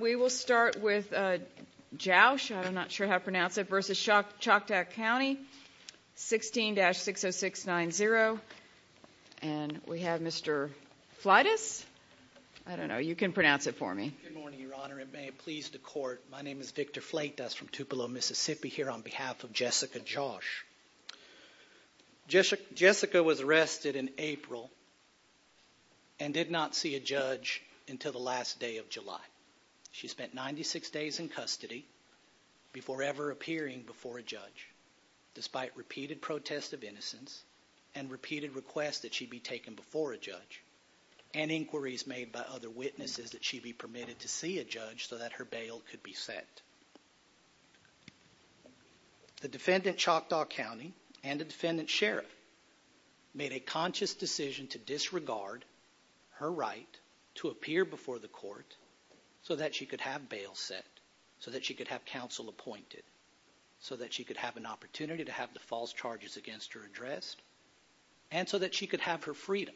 We will start with Jauch, I'm not sure how to pronounce it, versus Choctaw County, 16-60690. And we have Mr. Flites. I don't know, you can pronounce it for me. Good morning, Your Honor, and may it please the Court. My name is Victor Flate, that's from Tupelo, Mississippi, here on behalf of Jessica Jauch. Jessica was arrested in April and did not see a judge until the last day of July. She spent 96 days in custody before ever appearing before a judge, despite repeated protests of innocence and repeated requests that she be taken before a judge, and inquiries made by other witnesses that she be permitted to see a judge so that her bail could be set. The defendant, Choctaw County, and the defendant, Sheriff, made a conscious decision to disregard her right to appear before the Court so that she could have bail set, so that she could have counsel appointed, so that she could have an opportunity to have the false charges against her addressed, and so that she could have her freedom,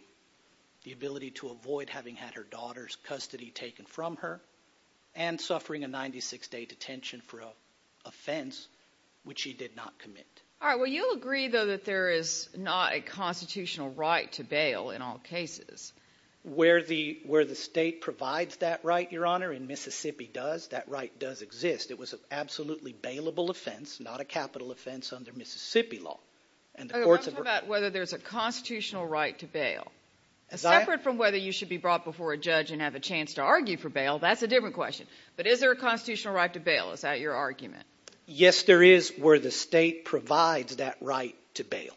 the ability to avoid having had her daughter's custody taken from her, and suffering a 96-day detention for an offense which she did not commit. All right, well, you'll agree, though, that there is not a constitutional right to bail in all cases. Where the state provides that right, Your Honor, and Mississippi does, that right does exist. It was an absolutely bailable offense, not a capital offense under Mississippi law. Okay, let's talk about whether there's a constitutional right to bail. Separate from whether you should be brought before a judge and have a chance to argue for bail, that's a different question. But is there a constitutional right to bail? Is that your argument? Yes, there is where the state provides that right to bail.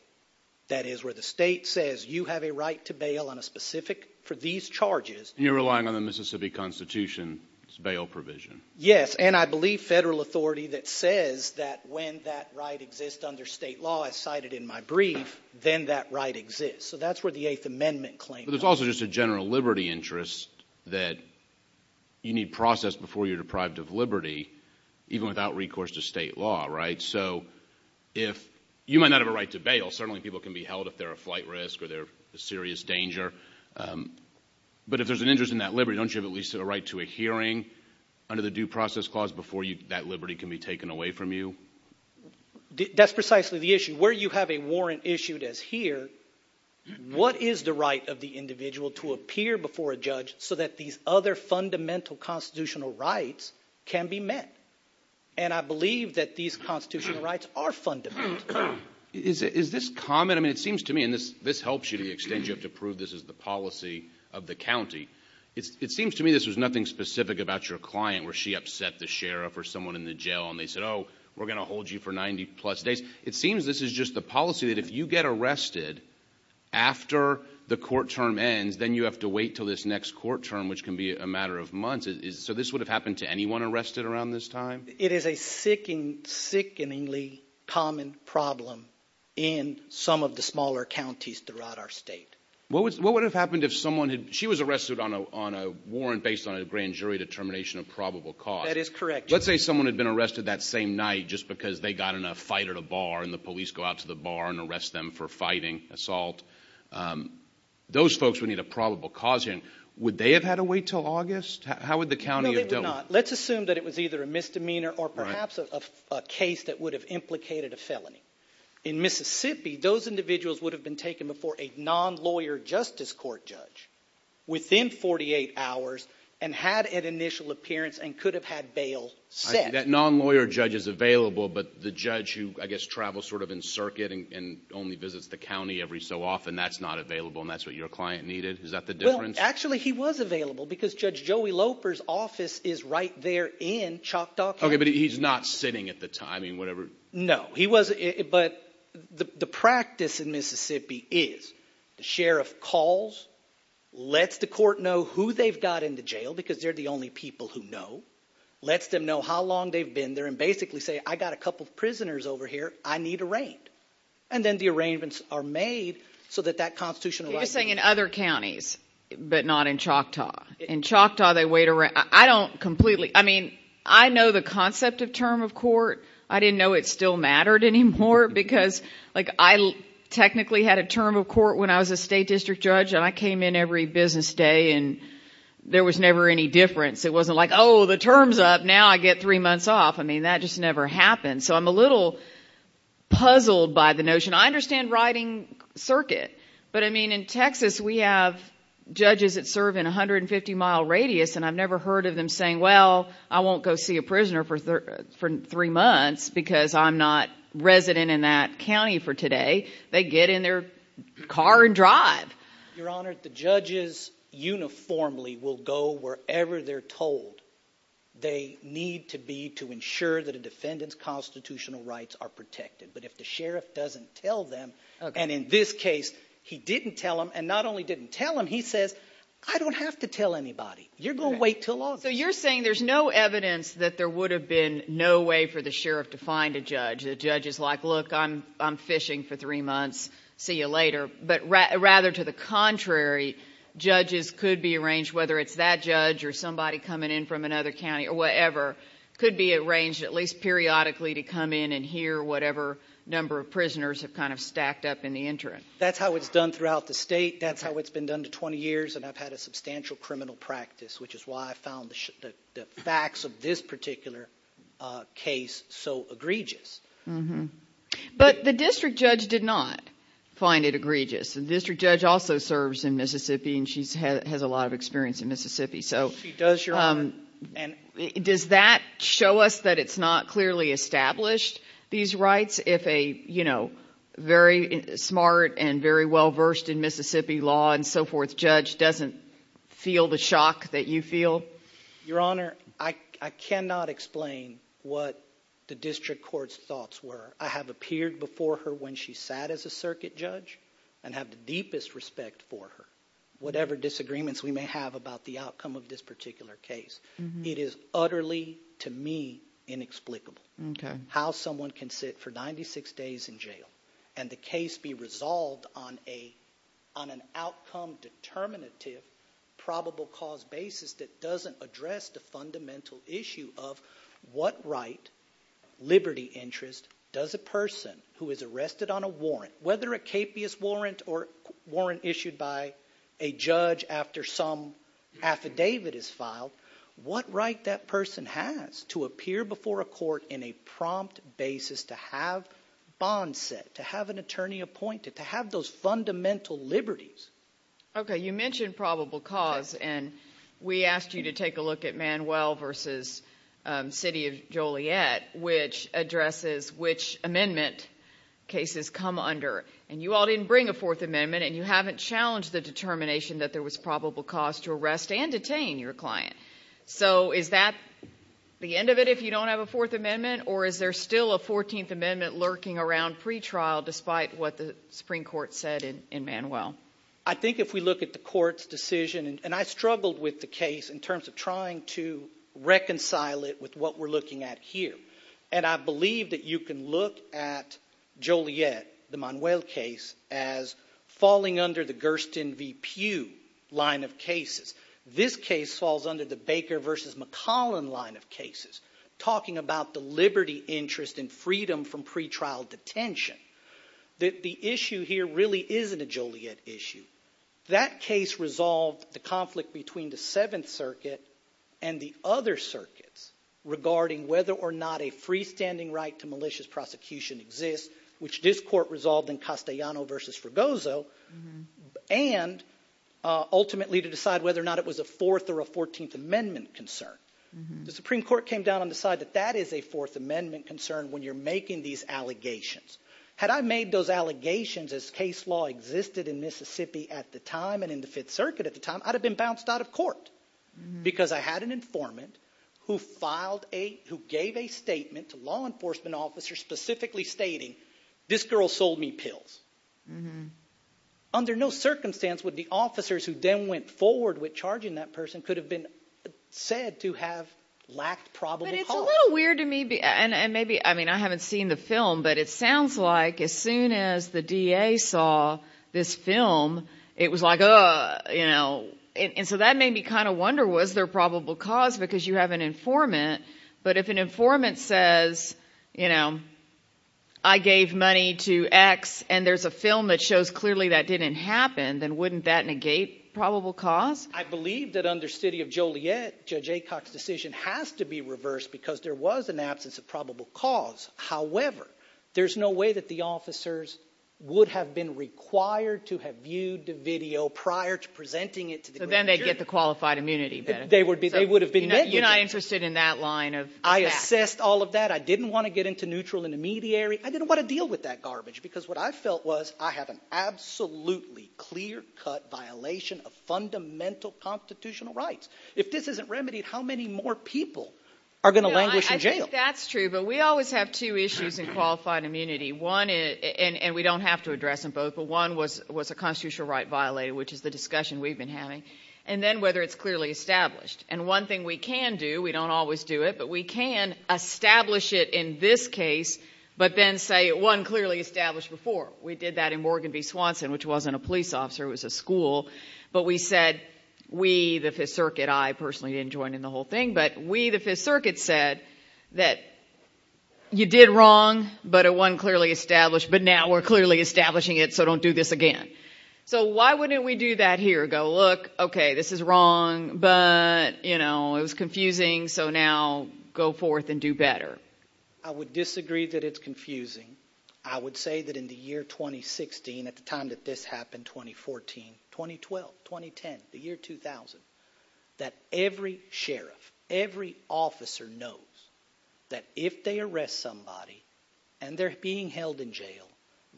That is where the state says you have a right to bail on a specific for these charges. You're relying on the Mississippi Constitution's bail provision. Yes, and I believe federal authority that says that when that right exists under state law, as cited in my brief, then that right exists. So that's where the Eighth Amendment claims. But there's also just a general liberty interest that you need processed before you're deprived of liberty, even without recourse to state law, right? So if – you might not have a right to bail. Certainly people can be held if they're a flight risk or they're a serious danger. But if there's an interest in that liberty, don't you have at least a right to a hearing under the Due Process Clause before that liberty can be taken away from you? That's precisely the issue. Where you have a warrant issued as here, what is the right of the individual to appear before a judge so that these other fundamental constitutional rights can be met? And I believe that these constitutional rights are fundamental. Is this common? I mean it seems to me – and this helps you to the extent you have to prove this is the policy of the county. It seems to me this was nothing specific about your client where she upset the sheriff or someone in the jail and they said, oh, we're going to hold you for 90 plus days. It seems this is just the policy that if you get arrested after the court term ends, then you have to wait until this next court term, which can be a matter of months. So this would have happened to anyone arrested around this time? It is a sickeningly common problem in some of the smaller counties throughout our state. What would have happened if someone – she was arrested on a warrant based on a grand jury determination of probable cause. That is correct. Let's say someone had been arrested that same night just because they got in a fight at a bar and the police go out to the bar and arrest them for fighting, assault. Those folks would need a probable cause hearing. Would they have had to wait until August? How would the county have dealt with it? No, they would not. Let's assume that it was either a misdemeanor or perhaps a case that would have implicated a felony. In Mississippi, those individuals would have been taken before a non-lawyer justice court judge within 48 hours and had an initial appearance and could have had bail set. That non-lawyer judge is available, but the judge who, I guess, travels sort of in circuit and only visits the county every so often, that's not available and that's what your client needed? Is that the difference? Actually, he was available because Judge Joey Loper's office is right there in Choctaw County. Okay, but he's not sitting at the time. No, but the practice in Mississippi is the sheriff calls, lets the court know who they've got in the jail because they're the only people who know, lets them know how long they've been there, and basically says, I've got a couple of prisoners over here I need arraigned, and then the arraignments are made so that that constitutional right… You're saying in other counties, but not in Choctaw. In Choctaw, they wait around. I know the concept of term of court. I didn't know it still mattered anymore because I technically had a term of court when I was a state district judge and I came in every business day and there was never any difference. It wasn't like, oh, the term's up, now I get three months off. I mean, that just never happened, so I'm a little puzzled by the notion. I understand riding circuit, but, I mean, in Texas, we have judges that serve in 150-mile radius, and I've never heard of them saying, well, I won't go see a prisoner for three months because I'm not resident in that county for today. They get in their car and drive. Your Honor, the judges uniformly will go wherever they're told. They need to be to ensure that a defendant's constitutional rights are protected, but if the sheriff doesn't tell them, and in this case, he didn't tell them, and not only didn't tell them, he says, I don't have to tell anybody. You're going to wait until August. So you're saying there's no evidence that there would have been no way for the sheriff to find a judge. The judge is like, look, I'm fishing for three months. See you later. But rather to the contrary, judges could be arranged, whether it's that judge or somebody coming in from another county or whatever, could be arranged at least periodically to come in and hear whatever number of prisoners have kind of stacked up in the interim. That's how it's done throughout the state. That's how it's been done to 20 years, and I've had a substantial criminal practice, which is why I found the facts of this particular case so egregious. But the district judge did not find it egregious. The district judge also serves in Mississippi, and she has a lot of experience in Mississippi. She does, Your Honor. Does that show us that it's not clearly established, these rights, if a very smart and very well-versed in Mississippi law and so forth judge doesn't feel the shock that you feel? Your Honor, I cannot explain what the district court's thoughts were. I have appeared before her when she sat as a circuit judge and have the deepest respect for her. Whatever disagreements we may have about the outcome of this particular case, it is utterly, to me, inexplicable. Okay. How someone can sit for 96 days in jail and the case be resolved on an outcome determinative probable cause basis that doesn't address the fundamental issue of what right, liberty interest, does a person who is arrested on a warrant, whether a capious warrant or warrant issued by a judge after some affidavit is filed, what right that person has to appear before a court in a prompt basis to have bonds set, to have an attorney appointed, to have those fundamental liberties? Okay. You mentioned probable cause, and we asked you to take a look at Manuel v. City of Joliet, which addresses which amendment cases come under. And you all didn't bring a Fourth Amendment, and you haven't challenged the determination that there was probable cause to arrest and detain your client. So is that the end of it if you don't have a Fourth Amendment, or is there still a Fourteenth Amendment lurking around pretrial despite what the Supreme Court said in Manuel? I think if we look at the Court's decision, and I struggled with the case in terms of trying to reconcile it with what we're looking at here. And I believe that you can look at Joliet, the Manuel case, as falling under the Gersten v. Pugh line of cases. This case falls under the Baker v. McCollum line of cases, talking about the liberty, interest, and freedom from pretrial detention. The issue here really isn't a Joliet issue. That case resolved the conflict between the Seventh Circuit and the other circuits regarding whether or not a freestanding right to malicious prosecution exists, which this Court resolved in Castellano v. Fregoso, and ultimately to decide whether or not it was a Fourth or a Fourteenth Amendment concern. The Supreme Court came down and decided that that is a Fourth Amendment concern when you're making these allegations. Had I made those allegations as case law existed in Mississippi at the time and in the Fifth Circuit at the time, I'd have been bounced out of court. Because I had an informant who gave a statement to law enforcement officers specifically stating, this girl sold me pills. Under no circumstance would the officers who then went forward with charging that person could have been said to have lacked probable cause. But it's a little weird to me, and maybe, I mean, I haven't seen the film, but it sounds like as soon as the DA saw this film, it was like, uh, you know. And so that made me kind of wonder, was there probable cause? Because you have an informant, but if an informant says, you know, I gave money to X and there's a film that shows clearly that didn't happen, then wouldn't that negate probable cause? I believe that under City of Joliet, Judge Aycock's decision has to be reversed because there was an absence of probable cause. However, there's no way that the officers would have been required to have viewed the video prior to presenting it to the grand jury. So then they'd get the qualified immunity better. They would have been negligent. You're not interested in that line of fact. I assessed all of that. I didn't want to get into neutral intermediary. I didn't want to deal with that garbage because what I felt was I have an absolutely clear-cut violation of fundamental constitutional rights. If this isn't remedied, how many more people are going to languish in jail? I think that's true, but we always have two issues in qualified immunity. One, and we don't have to address them both, but one was a constitutional right violated, which is the discussion we've been having, and then whether it's clearly established. And one thing we can do, we don't always do it, but we can establish it in this case, but then say it wasn't clearly established before. We did that in Morgan v. Swanson, which wasn't a police officer. It was a school. But we said, we, the Fifth Circuit, I personally didn't join in the whole thing, but we, the Fifth Circuit, said that you did wrong, but it wasn't clearly established. But now we're clearly establishing it, so don't do this again. So why wouldn't we do that here, go, look, okay, this is wrong, but it was confusing, so now go forth and do better? I would disagree that it's confusing. I would say that in the year 2016, at the time that this happened, 2014, 2012, 2010, the year 2000, that every sheriff, every officer knows that if they arrest somebody and they're being held in jail,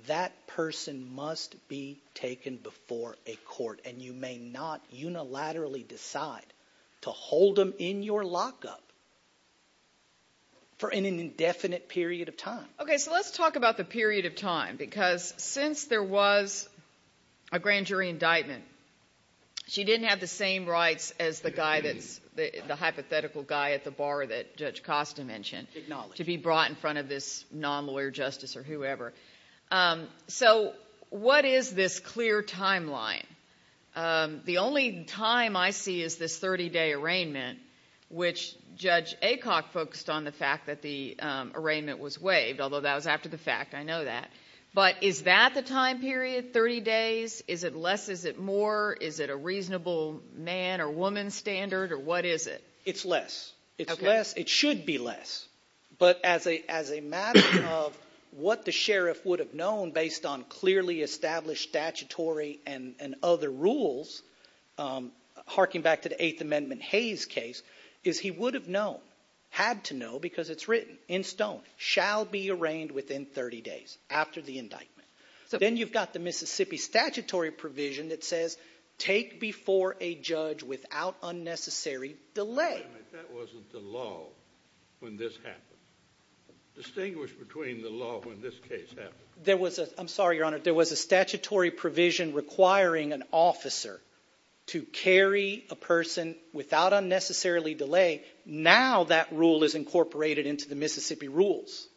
that person must be taken before a court. And you may not unilaterally decide to hold them in your lockup for an indefinite period of time. Okay, so let's talk about the period of time, because since there was a grand jury indictment, she didn't have the same rights as the hypothetical guy at the bar that Judge Costa mentioned to be brought in front of this non-lawyer justice or whoever. So what is this clear timeline? The only time I see is this 30-day arraignment, which Judge Aycock focused on the fact that the arraignment was waived, although that was after the fact. I know that. But is that the time period, 30 days? Is it less? Is it more? Is it a reasonable man or woman standard, or what is it? It's less. It's less. But as a matter of what the sheriff would have known based on clearly established statutory and other rules, harking back to the Eighth Amendment Hayes case, is he would have known, had to know, because it's written in stone, shall be arraigned within 30 days after the indictment. Then you've got the Mississippi statutory provision that says take before a judge without unnecessary delay. Wait a minute. That wasn't the law when this happened. Distinguish between the law when this case happened. I'm sorry, Your Honor. There was a statutory provision requiring an officer to carry a person without unnecessarily delay. Now that rule is incorporated into the Mississippi rules,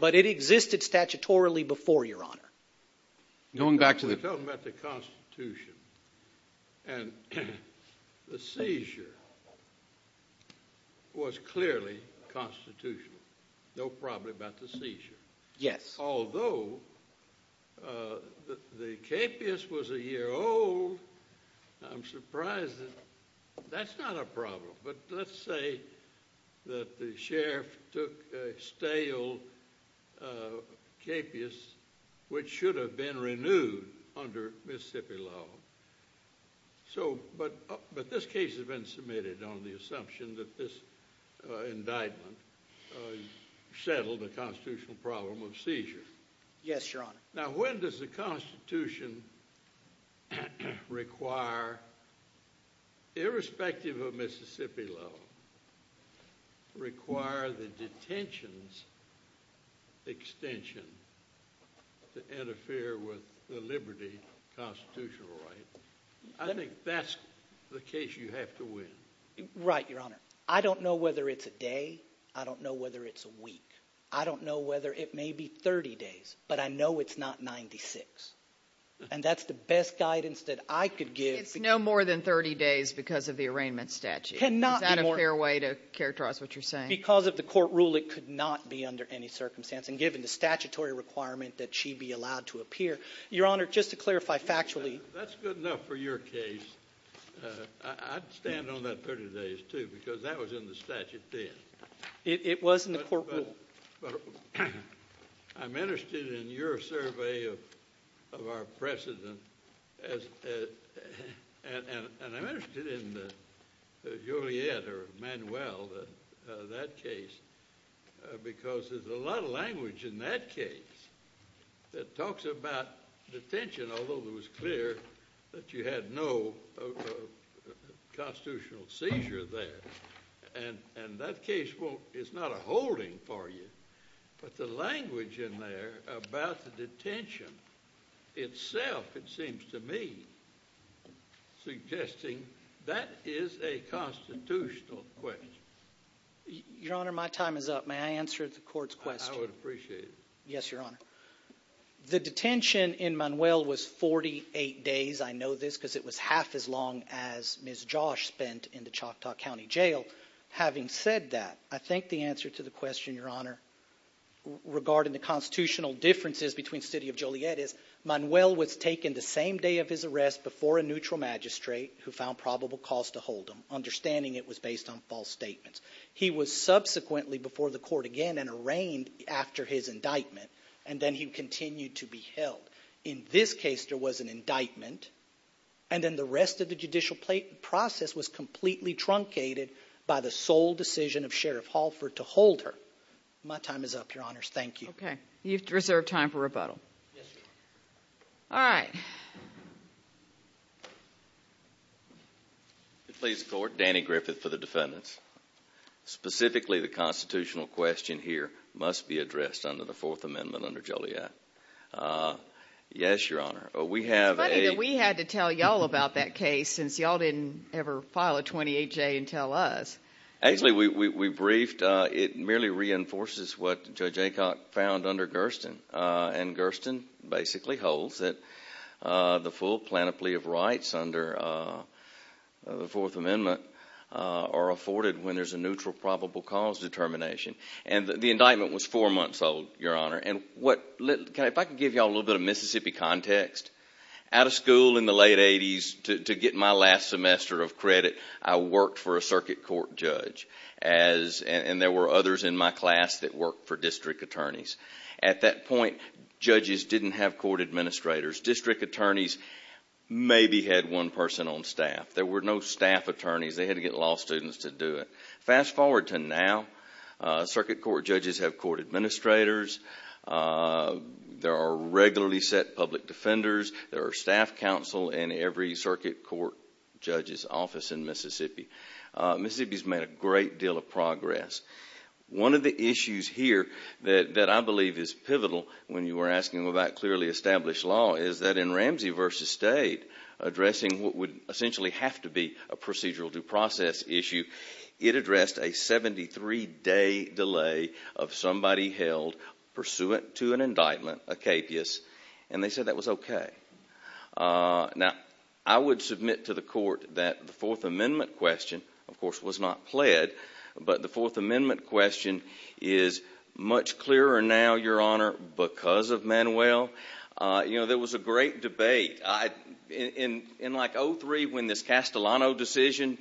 but it existed statutorily before, Your Honor. Going back to the— We're talking about the Constitution, and the seizure was clearly constitutional. No problem about the seizure. Yes. Although the capeus was a year old, I'm surprised that—that's not a problem. But let's say that the sheriff took a stale capeus, which should have been renewed under Mississippi law. But this case has been submitted on the assumption that this indictment settled a constitutional problem of seizure. Yes, Your Honor. Now when does the Constitution require, irrespective of Mississippi law, require the detention extension to interfere with the liberty constitutional right? I think that's the case you have to win. Right, Your Honor. I don't know whether it's a day. I don't know whether it may be 30 days, but I know it's not 96. And that's the best guidance that I could give— It's no more than 30 days because of the arraignment statute. Cannot be more— Is that a fair way to characterize what you're saying? Because of the court rule, it could not be under any circumstance, and given the statutory requirement that she be allowed to appear. Your Honor, just to clarify factually— That's good enough for your case. I'd stand on that 30 days, too, because that was in the statute then. It was in the court rule. I'm interested in your survey of our precedent, and I'm interested in Juliet or Manuel, that case, because there's a lot of language in that case that talks about detention, although it was clear that you had no constitutional seizure there. And that case is not a holding for you, but the language in there about the detention itself, it seems to me, suggesting that is a constitutional question. Your Honor, my time is up. May I answer the court's question? I would appreciate it. Yes, Your Honor. The detention in Manuel was 48 days. I know this because it was half as long as Ms. Josh spent in the Choctaw County Jail. Having said that, I think the answer to the question, Your Honor, regarding the constitutional differences between the City of Juliet is, Manuel was taken the same day of his arrest before a neutral magistrate who found probable cause to hold him, understanding it was based on false statements. He was subsequently before the court again and arraigned after his indictment, and then he continued to be held. In this case, there was an indictment, and then the rest of the judicial process was completely truncated by the sole decision of Sheriff Halford to hold her. My time is up, Your Honors. Thank you. Okay. You've reserved time for rebuttal. Yes, Your Honor. All right. Please support Danny Griffith for the defendants. Specifically, the constitutional question here must be addressed under the Fourth Amendment under Joliet. Yes, Your Honor. It's funny that we had to tell y'all about that case since y'all didn't ever file a 28-J and tell us. Actually, we briefed. It merely reinforces what Judge Aycock found under Gersten, and Gersten basically holds that the full plenipotentiary of rights under the Fourth Amendment are afforded when there's a neutral probable cause determination. The indictment was four months old, Your Honor. If I could give y'all a little bit of Mississippi context, out of school in the late 80s, to get my last semester of credit, I worked for a circuit court judge, and there were others in my class that worked for district attorneys. At that point, judges didn't have court administrators. District attorneys maybe had one person on staff. There were no staff attorneys. They had to get law students to do it. Fast forward to now. Circuit court judges have court administrators. There are regularly set public defenders. There are staff counsel in every circuit court judge's office in Mississippi. Mississippi's made a great deal of progress. One of the issues here that I believe is pivotal when you were asking about clearly established law is that in Ramsey v. State, addressing what would essentially have to be a procedural due process issue, it addressed a 73-day delay of somebody held pursuant to an indictment, a capious, and they said that was okay. Now, I would submit to the court that the Fourth Amendment question, of course, was not pled, but the Fourth Amendment question is much clearer now, Your Honor, because of Manuel. There was a great debate. In like 2003 when this Castellano decision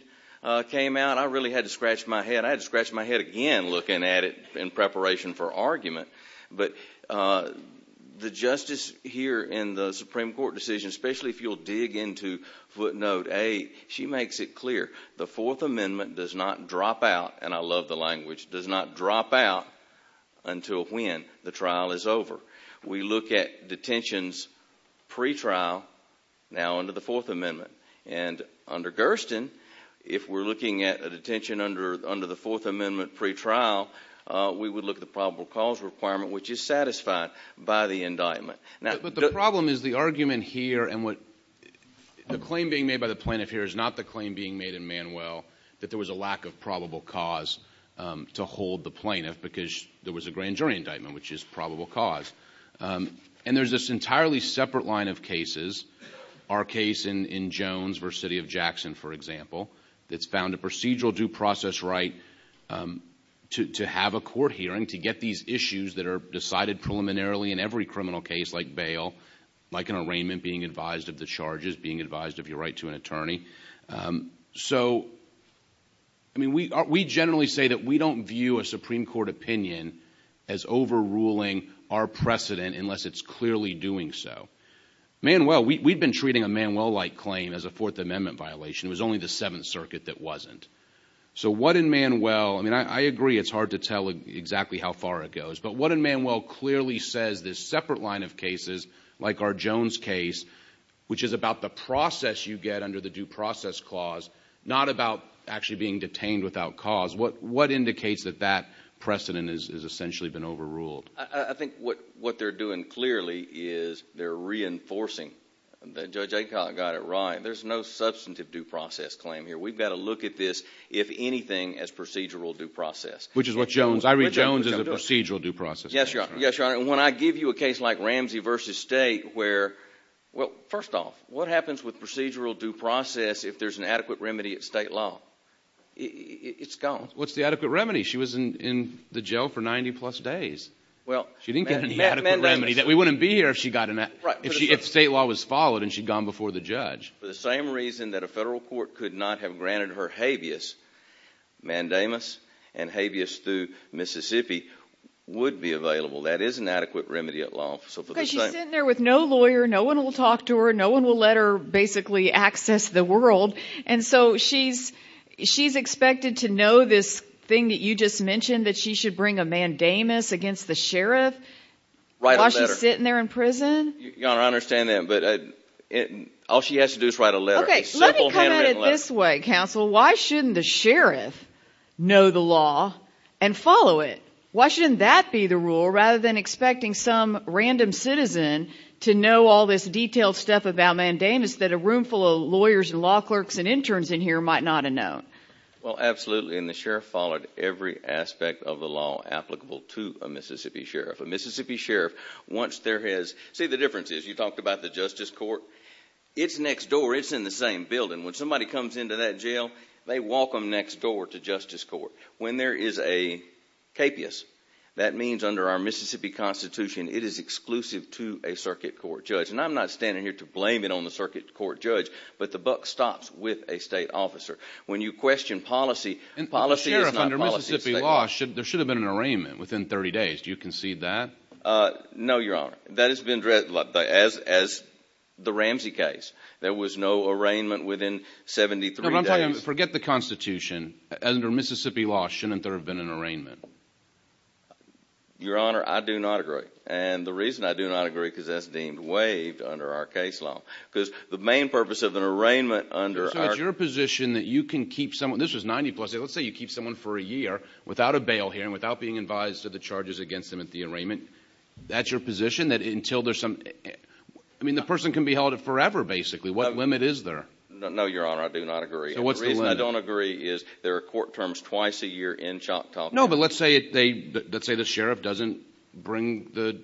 came out, I really had to scratch my head. I had to scratch my head again looking at it in preparation for argument. But the justice here in the Supreme Court decision, especially if you'll dig into footnote 8, she makes it clear. The Fourth Amendment does not drop out, and I love the language, does not drop out until when the trial is over. We look at detentions pretrial now under the Fourth Amendment. And under Gersten, if we're looking at a detention under the Fourth Amendment pretrial, we would look at the probable cause requirement, which is satisfied by the indictment. But the problem is the argument here and what the claim being made by the plaintiff here is not the claim being made in Manuel that there was a lack of probable cause to hold the plaintiff because there was a grand jury indictment, which is probable cause. And there's this entirely separate line of cases, our case in Jones v. City of Jackson, for example, that's found a procedural due process right to have a court hearing, to get these issues that are decided preliminarily in every criminal case like bail, like an arraignment being advised of the charges, being advised of your right to an attorney. So, I mean, we generally say that we don't view a Supreme Court opinion as overruling our precedent unless it's clearly doing so. Manuel, we've been treating a Manuel-like claim as a Fourth Amendment violation. It was only the Seventh Circuit that wasn't. So what in Manuel, I mean, I agree it's hard to tell exactly how far it goes, but what in Manuel clearly says this separate line of cases, like our Jones case, which is about the process you get under the due process clause, not about actually being detained without cause, what indicates that that precedent has essentially been overruled? I think what they're doing clearly is they're reinforcing, and Judge Aikot got it right, there's no substantive due process claim here. We've got to look at this, if anything, as procedural due process. Which is what Jones, I read Jones as a procedural due process. Yes, Your Honor, and when I give you a case like Ramsey v. State where, well, first off, what happens with procedural due process if there's an adequate remedy at state law? It's gone. What's the adequate remedy? She was in the jail for 90-plus days. She didn't get an adequate remedy. We wouldn't be here if state law was followed and she'd gone before the judge. For the same reason that a federal court could not have granted her habeas mandamus and habeas through Mississippi would be available. That is an adequate remedy at law. Because she's sitting there with no lawyer, no one will talk to her, no one will let her basically access the world, and so she's expected to know this thing that you just mentioned, that she should bring a mandamus against the sheriff while she's sitting there in prison? Your Honor, I understand that, but all she has to do is write a letter. Okay, let me come at it this way, counsel. Why shouldn't the sheriff know the law and follow it? Why shouldn't that be the rule rather than expecting some random citizen to know all this detailed stuff about mandamus that a roomful of lawyers and law clerks and interns in here might not have known? Well, absolutely, and the sheriff followed every aspect of the law applicable to a Mississippi sheriff. A Mississippi sheriff, once there has, see the difference is, you talked about the justice court, it's next door, it's in the same building. When somebody comes into that jail, they walk them next door to justice court. When there is a capias, that means under our Mississippi Constitution, it is exclusive to a circuit court judge. And I'm not standing here to blame it on the circuit court judge, but the buck stops with a state officer. When you question policy, policy is not policy. But, Sheriff, under Mississippi law, there should have been an arraignment within 30 days. Do you concede that? No, Your Honor. That has been read as the Ramsey case. There was no arraignment within 73 days. No, but I'm talking, forget the Constitution. Under Mississippi law, shouldn't there have been an arraignment? Your Honor, I do not agree. And the reason I do not agree is because that's deemed waived under our case law. Because the main purpose of an arraignment under our case law. Your position that you can keep someone, this was 90 plus, let's say you keep someone for a year without a bail hearing, without being advised of the charges against them at the arraignment, that's your position that until there's some, I mean the person can be held forever basically. What limit is there? No, Your Honor, I do not agree. So what's the limit? The reason I don't agree is there are court terms twice a year in Choctaw. No, but let's say the Sheriff doesn't bring the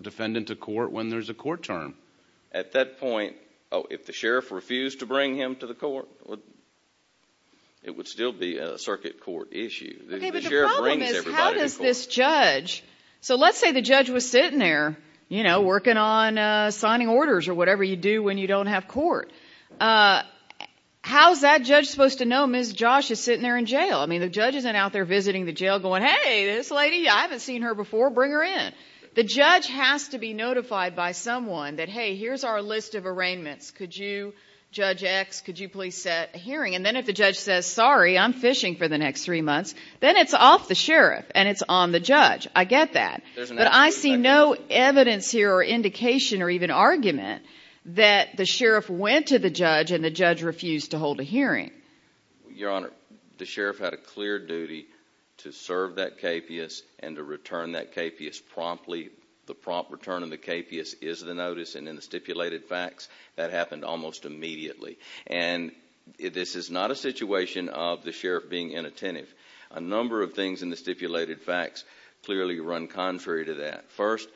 defendant to court when there's a court term. At that point, oh, if the Sheriff refused to bring him to the court, it would still be a circuit court issue. Okay, but the problem is how does this judge, so let's say the judge was sitting there, you know, working on signing orders or whatever you do when you don't have court. How's that judge supposed to know Ms. Josh is sitting there in jail? I mean the judge isn't out there visiting the jail going, hey, this lady, I haven't seen her before, bring her in. The judge has to be notified by someone that, hey, here's our list of arraignments. Could you, Judge X, could you please set a hearing? And then if the judge says, sorry, I'm fishing for the next three months, then it's off the Sheriff and it's on the judge. I get that. But I see no evidence here or indication or even argument that the Sheriff went to the judge and the judge refused to hold a hearing. Your Honor, the Sheriff had a clear duty to serve that KPS and to return that KPS promptly. The prompt return of the KPS is the notice, and in the stipulated facts that happened almost immediately. And this is not a situation of the Sheriff being inattentive. A number of things in the stipulated facts clearly run contrary to that. First,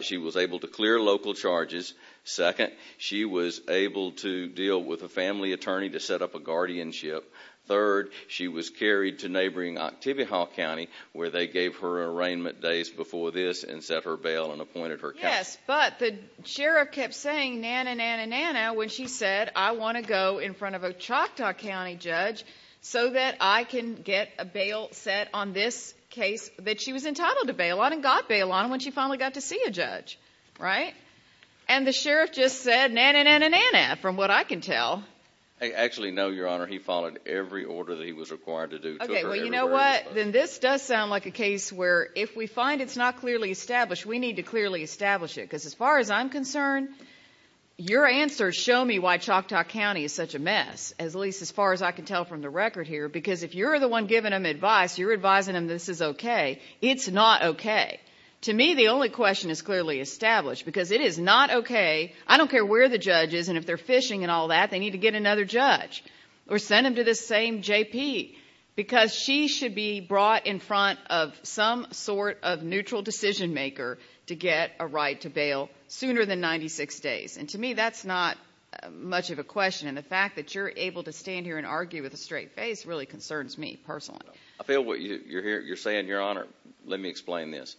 she was able to clear local charges. Second, she was able to deal with a family attorney to set up a guardianship. Third, she was carried to neighboring Octavia Hall County, where they gave her arraignment days before this and set her bail and appointed her counsel. Yes, but the Sheriff kept saying, na-na-na-na-na, when she said, I want to go in front of a Choctaw County judge so that I can get a bail set on this case that she was entitled to bail on and got bail on when she finally got to see a judge. Right? And the Sheriff just said, na-na-na-na-na, from what I can tell. Actually, no, Your Honor, he followed every order that he was required to do. Okay, well, you know what? Then this does sound like a case where if we find it's not clearly established, we need to clearly establish it, because as far as I'm concerned, your answers show me why Choctaw County is such a mess, at least as far as I can tell from the record here, because if you're the one giving them advice, you're advising them this is okay. It's not okay. To me, the only question is clearly established, because it is not okay. I don't care where the judge is, and if they're fishing and all that, they need to get another judge or send them to this same JP, because she should be brought in front of some sort of neutral decision maker to get a right to bail sooner than 96 days. And to me, that's not much of a question, and the fact that you're able to stand here and argue with a straight face really concerns me personally. I feel what you're saying, Your Honor. Let me explain this.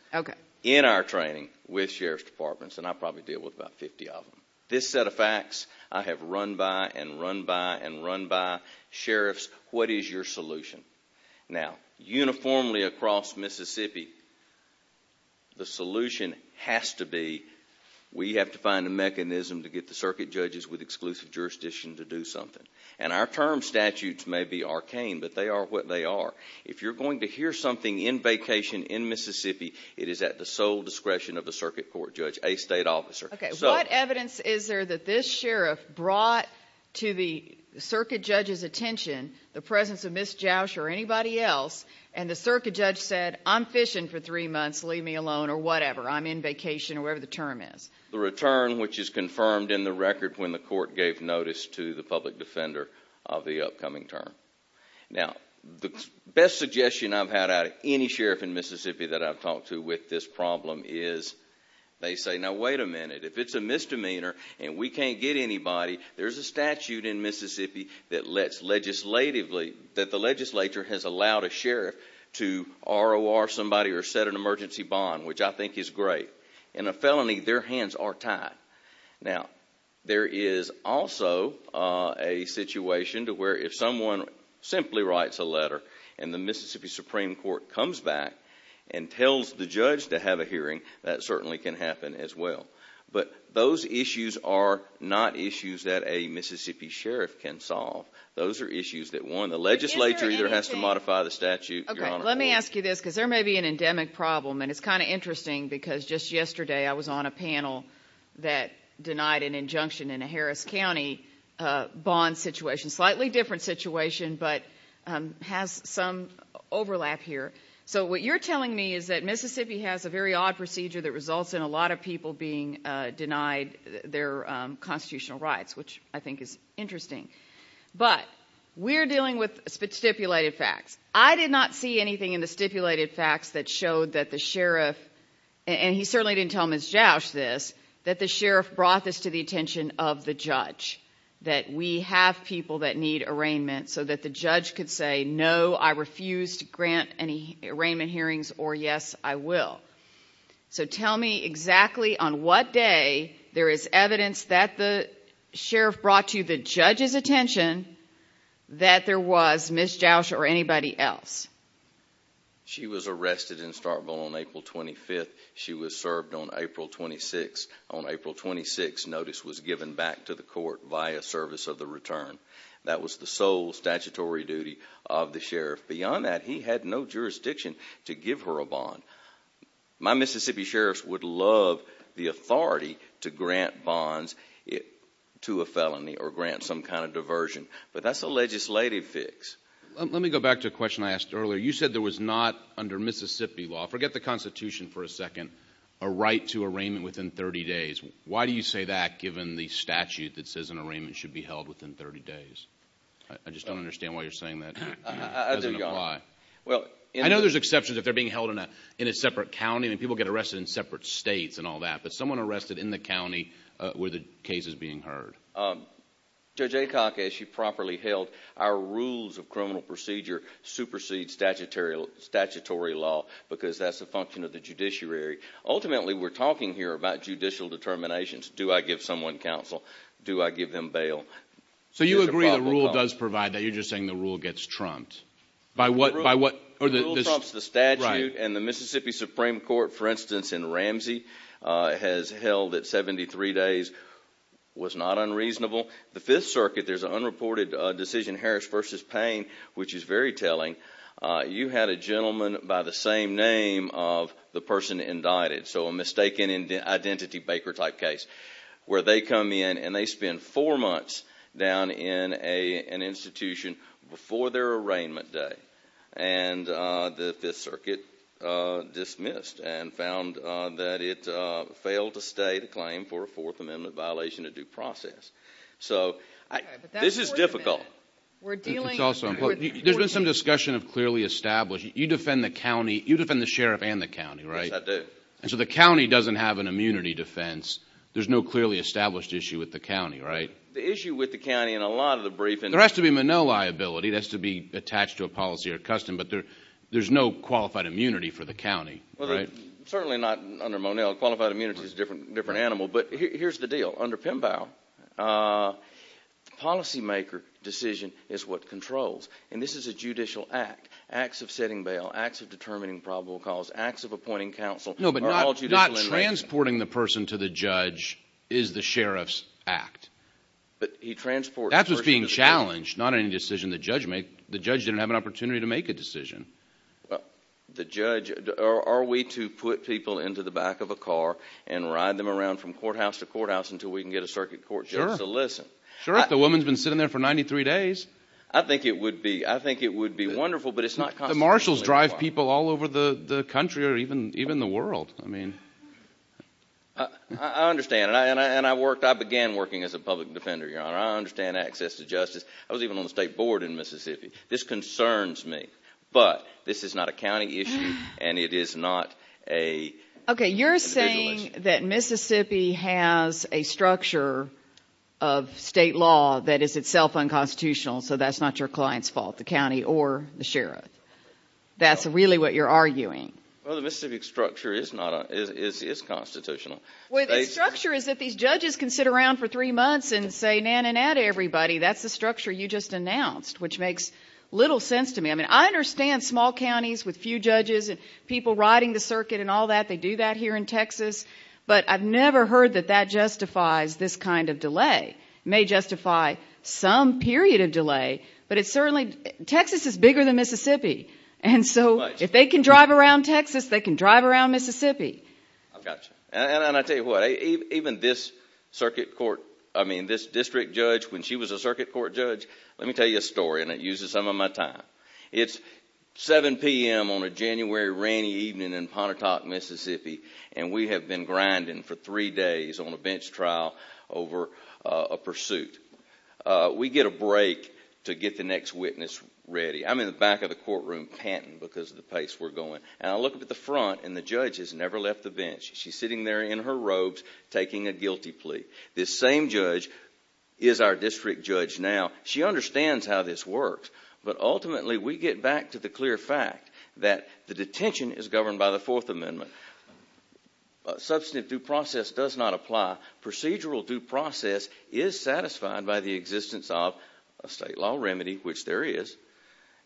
In our training with Sheriff's Departments, and I probably deal with about 50 of them, this set of facts I have run by and run by and run by. Sheriffs, what is your solution? Now, uniformly across Mississippi, the solution has to be we have to find a mechanism to get the circuit judges with exclusive jurisdiction to do something. And our term statutes may be arcane, but they are what they are. If you're going to hear something in vacation in Mississippi, it is at the sole discretion of the circuit court judge, a state officer. What evidence is there that this sheriff brought to the circuit judge's attention the presence of Ms. Joush or anybody else, and the circuit judge said, I'm fishing for three months, leave me alone, or whatever, I'm in vacation, or whatever the term is? The return, which is confirmed in the record when the court gave notice to the public defender of the upcoming term. Now, the best suggestion I've had out of any sheriff in Mississippi that I've talked to with this problem is they say, now wait a minute, if it's a misdemeanor and we can't get anybody, there's a statute in Mississippi that lets legislatively, that the legislature has allowed a sheriff to ROR somebody or set an emergency bond, which I think is great. In a felony, their hands are tied. Now, there is also a situation to where if someone simply writes a letter and the Mississippi Supreme Court comes back and tells the judge to have a hearing, that certainly can happen as well. But those issues are not issues that a Mississippi sheriff can solve. Those are issues that one, the legislature either has to modify the statute. Okay, let me ask you this because there may be an endemic problem, and it's kind of interesting because just yesterday I was on a panel that denied an injunction in a Harris County bond situation, slightly different situation, but has some overlap here. So what you're telling me is that Mississippi has a very odd procedure that results in a lot of people being denied their constitutional rights, which I think is interesting. But we're dealing with stipulated facts. I did not see anything in the stipulated facts that showed that the sheriff, and he certainly didn't tell Ms. Joush this, that the sheriff brought this to the attention of the judge, that we have people that need arraignment so that the judge could say, no, I refuse to grant any arraignment hearings, or yes, I will. So tell me exactly on what day there is evidence that the sheriff brought to the judge's attention that there was Ms. Joush or anybody else. She was arrested in Starkville on April 25th. She was served on April 26th. On April 26th, notice was given back to the court via service of the return. That was the sole statutory duty of the sheriff. Beyond that, he had no jurisdiction to give her a bond. My Mississippi sheriffs would love the authority to grant bonds to a felony or grant some kind of diversion, but that's a legislative fix. Let me go back to a question I asked earlier. You said there was not under Mississippi law, forget the Constitution for a second, a right to arraignment within 30 days. Why do you say that given the statute that says an arraignment should be held within 30 days? I just don't understand why you're saying that doesn't apply. I know there's exceptions if they're being held in a separate county and people get arrested in separate states and all that, but someone arrested in the county where the case is being heard. Judge Aycock, as she properly held, our rules of criminal procedure supersede statutory law because that's a function of the judiciary. Ultimately, we're talking here about judicial determinations. Do I give someone counsel? Do I give them bail? So you agree the rule does provide that. You're just saying the rule gets trumped. The rule trumps the statute, and the Mississippi Supreme Court, for instance, in Ramsey, has held that 73 days was not unreasonable. The Fifth Circuit, there's an unreported decision, Harris v. Payne, which is very telling. You had a gentleman by the same name of the person indicted, so a mistaken identity baker type case, where they come in and they spend four months down in an institution before their arraignment day, and the Fifth Circuit dismissed and found that it failed to state a claim for a Fourth Amendment violation of due process. So this is difficult. There's been some discussion of clearly established. You defend the county. You defend the sheriff and the county, right? Yes, I do. And so the county doesn't have an immunity defense. There's no clearly established issue with the county, right? The issue with the county in a lot of the briefings— There has to be Monell liability. That has to be attached to a policy or custom, but there's no qualified immunity for the county, right? Certainly not under Monell. Qualified immunity is a different animal. But here's the deal. Under Pembau, the policymaker decision is what controls, and this is a judicial act. Acts of setting bail, acts of determining probable cause, acts of appointing counsel— No, but not transporting the person to the judge is the sheriff's act. But he transports the person to the judge. That's what's being challenged, not any decision the judge makes. The judge didn't have an opportunity to make a decision. Are we to put people into the back of a car and ride them around from courthouse to courthouse until we can get a circuit court judge to listen? Sure, if the woman's been sitting there for 93 days. I think it would be wonderful, but it's not constantly required. The marshals drive people all over the country or even the world. I understand, and I began working as a public defender, Your Honor. I understand access to justice. I was even on the state board in Mississippi. This concerns me, but this is not a county issue, and it is not a individual issue. Okay, you're saying that Mississippi has a structure of state law that is itself unconstitutional, so that's not your client's fault, the county or the sheriff. That's really what you're arguing. Well, the Mississippi structure is constitutional. Well, the structure is that these judges can sit around for three months and say, na-na-na to everybody. That's the structure you just announced, which makes little sense to me. I mean, I understand small counties with few judges and people riding the circuit and all that. They do that here in Texas. But I've never heard that that justifies this kind of delay. It may justify some period of delay, but it's certainly – Texas is bigger than Mississippi. And so if they can drive around Texas, they can drive around Mississippi. I've got you. And I tell you what, even this circuit court – I mean, this district judge, when she was a circuit court judge – let me tell you a story, and it uses some of my time. It's 7 p.m. on a January rainy evening in Pontotoc, Mississippi, and we have been grinding for three days on a bench trial over a pursuit. We get a break to get the next witness ready. I'm in the back of the courtroom panting because of the pace we're going. And I look up at the front, and the judge has never left the bench. She's sitting there in her robes taking a guilty plea. This same judge is our district judge now. She understands how this works, but ultimately we get back to the clear fact that the detention is governed by the Fourth Amendment. Substantive due process does not apply. Procedural due process is satisfied by the existence of a state law remedy, which there is.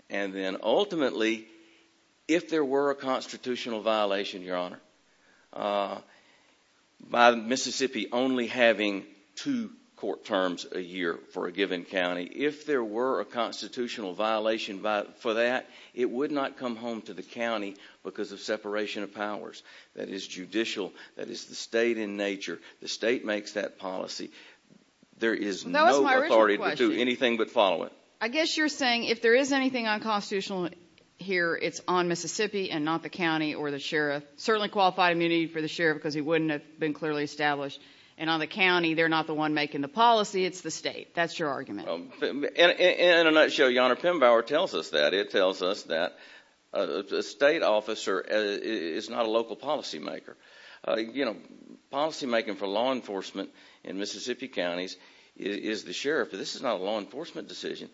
And then ultimately, if there were a constitutional violation, Your Honor, by Mississippi only having two court terms a year for a given county, if there were a constitutional violation for that, it would not come home to the county because of separation of powers. That is judicial. That is the state in nature. The state makes that policy. There is no authority to do anything but follow it. I guess you're saying if there is anything unconstitutional here, it's on Mississippi and not the county or the sheriff. Certainly qualified immunity for the sheriff because he wouldn't have been clearly established. And on the county, they're not the one making the policy. It's the state. That's your argument. In a nutshell, Your Honor, Pembauer tells us that. It tells us that a state officer is not a local policymaker. Policymaking for law enforcement in Mississippi counties is the sheriff. This is not a law enforcement decision.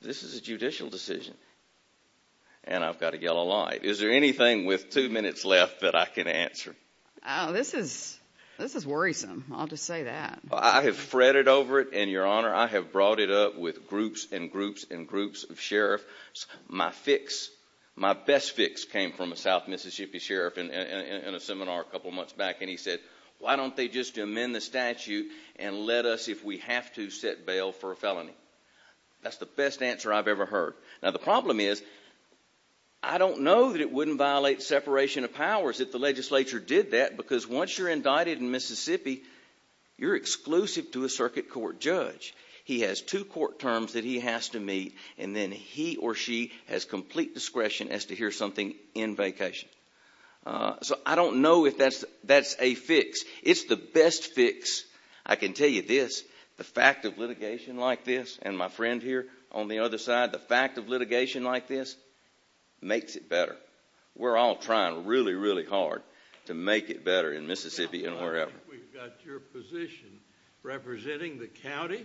This is a judicial decision. And I've got a yellow light. Is there anything with two minutes left that I can answer? This is worrisome. I'll just say that. I have fretted over it, and, Your Honor, I have brought it up with groups and groups and groups of sheriffs. My fix, my best fix, came from a South Mississippi sheriff in a seminar a couple months back, and he said, why don't they just amend the statute and let us, if we have to, set bail for a felony? That's the best answer I've ever heard. Now, the problem is, I don't know that it wouldn't violate separation of powers if the legislature did that, because once you're indicted in Mississippi, you're exclusive to a circuit court judge. He has two court terms that he has to meet, and then he or she has complete discretion as to hear something in vacation. So I don't know if that's a fix. It's the best fix, I can tell you this, the fact of litigation like this, and my friend here on the other side, the fact of litigation like this makes it better. We're all trying really, really hard to make it better in Mississippi and wherever. We've got your position representing the county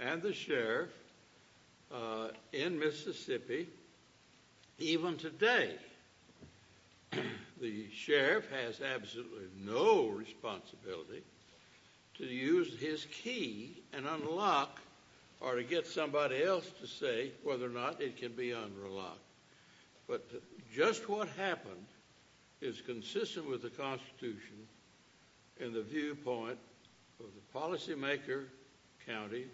and the sheriff in Mississippi even today. The sheriff has absolutely no responsibility to use his key and unlock or to get somebody else to say whether or not it can be unlocked. But just what happened is consistent with the Constitution and the viewpoint of the policymaker, county,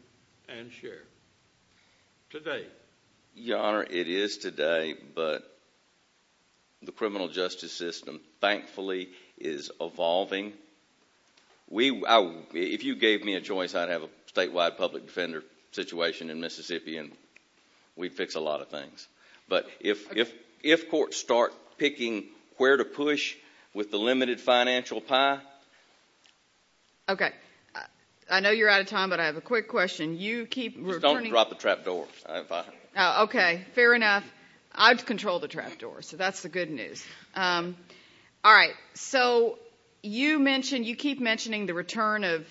and sheriff today. Your Honor, it is today, but the criminal justice system thankfully is evolving. If you gave me a choice, I'd have a statewide public defender situation in Mississippi, and we'd fix a lot of things. But if courts start picking where to push with the limited financial pie. Okay. I know you're out of time, but I have a quick question. Don't drop the trapdoor. Okay. Fair enough. I control the trapdoor, so that's the good news. All right. So you keep mentioning the return of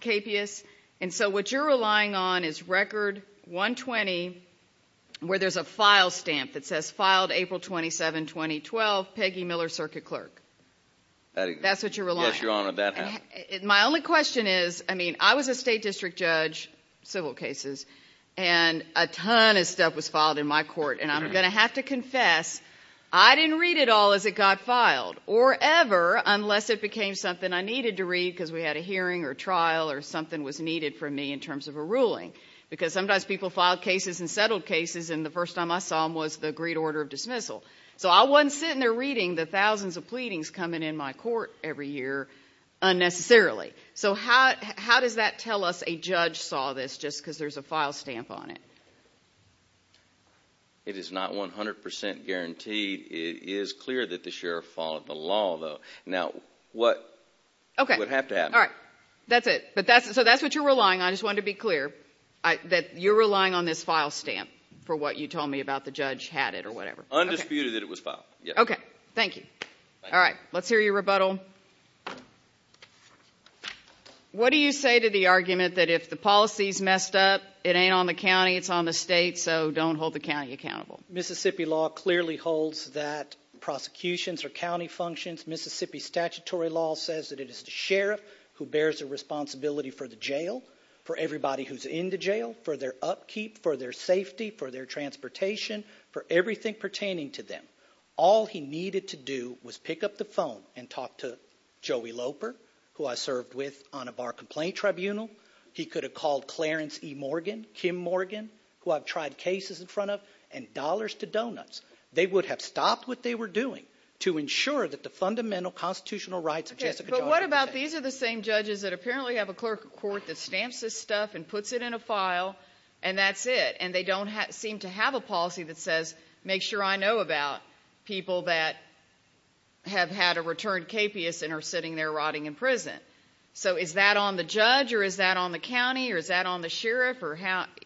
KPS, and so what you're relying on is Record 120 where there's a file stamp that says, Filed April 27, 2012, Peggy Miller, Circuit Clerk. That's what you're relying on. Yes, Your Honor, that happened. My only question is, I mean, I was a state district judge, civil cases, and a ton of stuff was filed in my court, and I'm going to have to confess I didn't read it all as it got filed, or ever unless it became something I needed to read because we had a hearing or a trial or something was needed from me in terms of a ruling. Because sometimes people file cases and settle cases, and the first time I saw them was the agreed order of dismissal. So I wasn't sitting there reading the thousands of pleadings coming in my court every year, unnecessarily. So how does that tell us a judge saw this just because there's a file stamp on it? It is not 100% guaranteed. It is clear that the sheriff followed the law, though. Now, what would have to happen? All right. That's it. So that's what you're relying on. I just wanted to be clear that you're relying on this file stamp for what you told me about the judge had it or whatever. Undisputed that it was filed, yes. Okay. Thank you. All right. Let's hear your rebuttal. What do you say to the argument that if the policy is messed up, it ain't on the county, it's on the state, so don't hold the county accountable? Mississippi law clearly holds that prosecutions are county functions. Mississippi statutory law says that it is the sheriff who bears the responsibility for the jail, for everybody who's in the jail, for their upkeep, for their safety, for their transportation, for everything pertaining to them. All he needed to do was pick up the phone and talk to Joey Loper, who I served with on a bar complaint tribunal. He could have called Clarence E. Morgan, Kim Morgan, who I've tried cases in front of, and dollars to donuts. They would have stopped what they were doing to ensure that the fundamental constitutional rights of Jessica Johnson were kept. Okay, but what about these are the same judges that apparently have a clerk of court that stamps this stuff and puts it in a file, and that's it, and they don't seem to have a policy that says make sure I know about people that have had a returned capious and are sitting there rotting in prison. So is that on the judge or is that on the county or is that on the sheriff?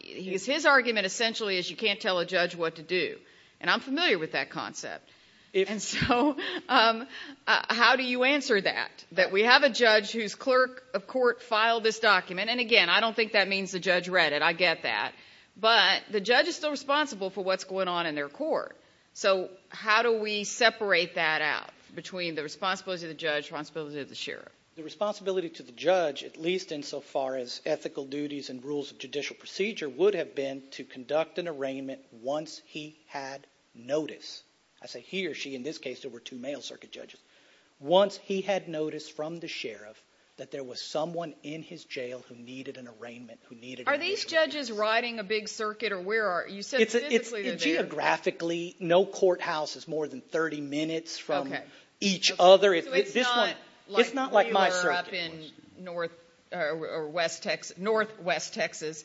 His argument essentially is you can't tell a judge what to do, and I'm familiar with that concept. And so how do you answer that, that we have a judge whose clerk of court filed this document? And, again, I don't think that means the judge read it. I get that. But the judge is still responsible for what's going on in their court. So how do we separate that out between the responsibility of the judge, responsibility of the sheriff? The responsibility to the judge, at least insofar as ethical duties and rules of judicial procedure, would have been to conduct an arraignment once he had notice. I say he or she. In this case there were two male circuit judges. Once he had noticed from the sheriff that there was someone in his jail who needed an arraignment. Are these judges riding a big circuit or where are you? You said physically they're there. Geographically, no courthouse is more than 30 minutes from each other. So it's not like we were up in northwest Texas.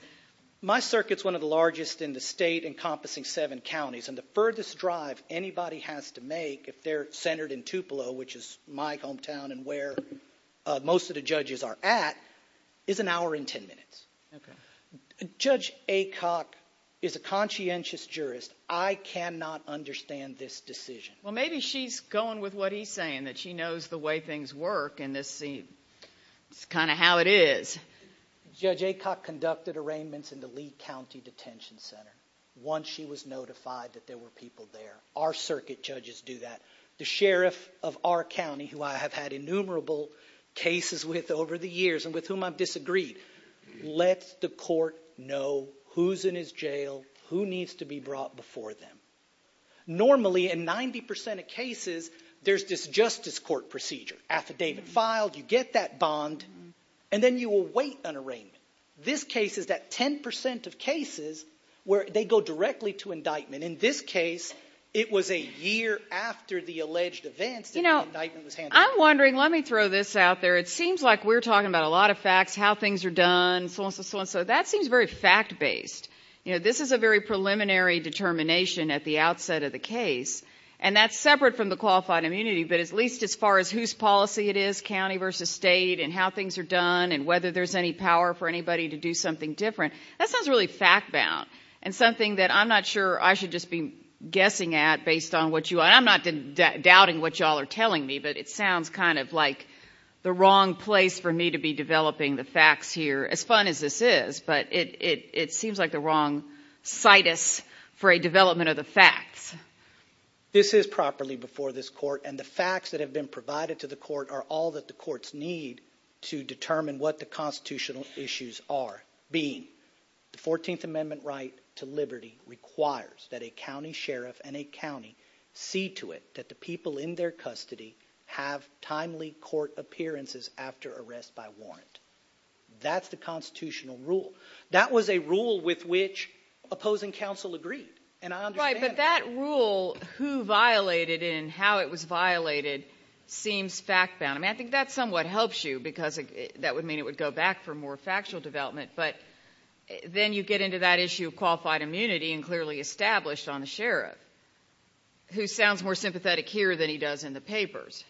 My circuit's one of the largest in the state, encompassing seven counties, and the furthest drive anybody has to make if they're centered in Tupelo, which is my hometown and where most of the judges are at, is an hour and ten minutes. Judge Aycock is a conscientious jurist. I cannot understand this decision. Well, maybe she's going with what he's saying, that she knows the way things work in this scene. It's kind of how it is. Judge Aycock conducted arraignments in the Lee County Detention Center once she was notified that there were people there. Our circuit judges do that. The sheriff of our county, who I have had innumerable cases with over the years and with whom I've disagreed, lets the court know who's in his jail, who needs to be brought before them. Normally, in 90% of cases, there's this justice court procedure. Affidavit filed, you get that bond, and then you await an arraignment. This case is that 10% of cases where they go directly to indictment. In this case, it was a year after the alleged events that the indictment was handled. I'm wondering, let me throw this out there. It seems like we're talking about a lot of facts, how things are done, so on and so on. That seems very fact-based. This is a very preliminary determination at the outset of the case, and that's separate from the qualified immunity, but at least as far as whose policy it is, county versus state, and how things are done, and whether there's any power for anybody to do something different, that sounds really fact-bound and something that I'm not sure I should just be guessing at based on what you are. I'm not doubting what you all are telling me, but it sounds kind of like the wrong place for me to be developing the facts here, as fun as this is, but it seems like the wrong situs for a development of the facts. This is properly before this court, and the facts that have been provided to the court are all that the courts need to determine what the constitutional issues are, being the 14th Amendment right to liberty requires that a county sheriff and a county see to it that the people in their custody have timely court appearances after arrest by warrant. That's the constitutional rule. That was a rule with which opposing counsel agreed, and I understand that. Right, but that rule, who violated it and how it was violated, seems fact-bound. I mean, I think that somewhat helps you because that would mean it would go back for more factual development, but then you get into that issue of qualified immunity and clearly established on the sheriff, who sounds more sympathetic here than he does in the papers.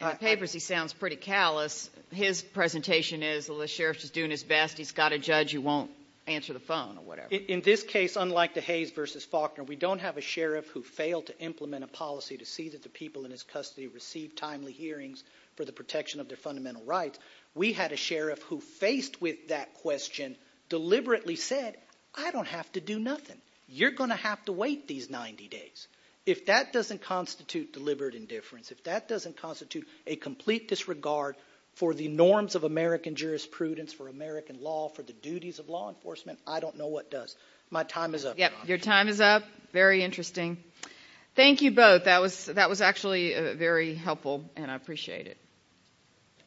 In the papers he sounds pretty callous. His presentation is, well, the sheriff's just doing his best. He's got a judge who won't answer the phone or whatever. In this case, unlike the Hayes v. Faulkner, we don't have a sheriff who failed to implement a policy to see that the people in his custody received timely hearings for the protection of their fundamental rights. We had a sheriff who faced with that question, deliberately said, I don't have to do nothing. You're going to have to wait these 90 days. If that doesn't constitute deliberate indifference, if that doesn't constitute a complete disregard for the norms of American jurisprudence, for American law, for the duties of law enforcement, I don't know what does. My time is up. Yep, your time is up. Very interesting. Thank you both. That was actually very helpful, and I appreciate it.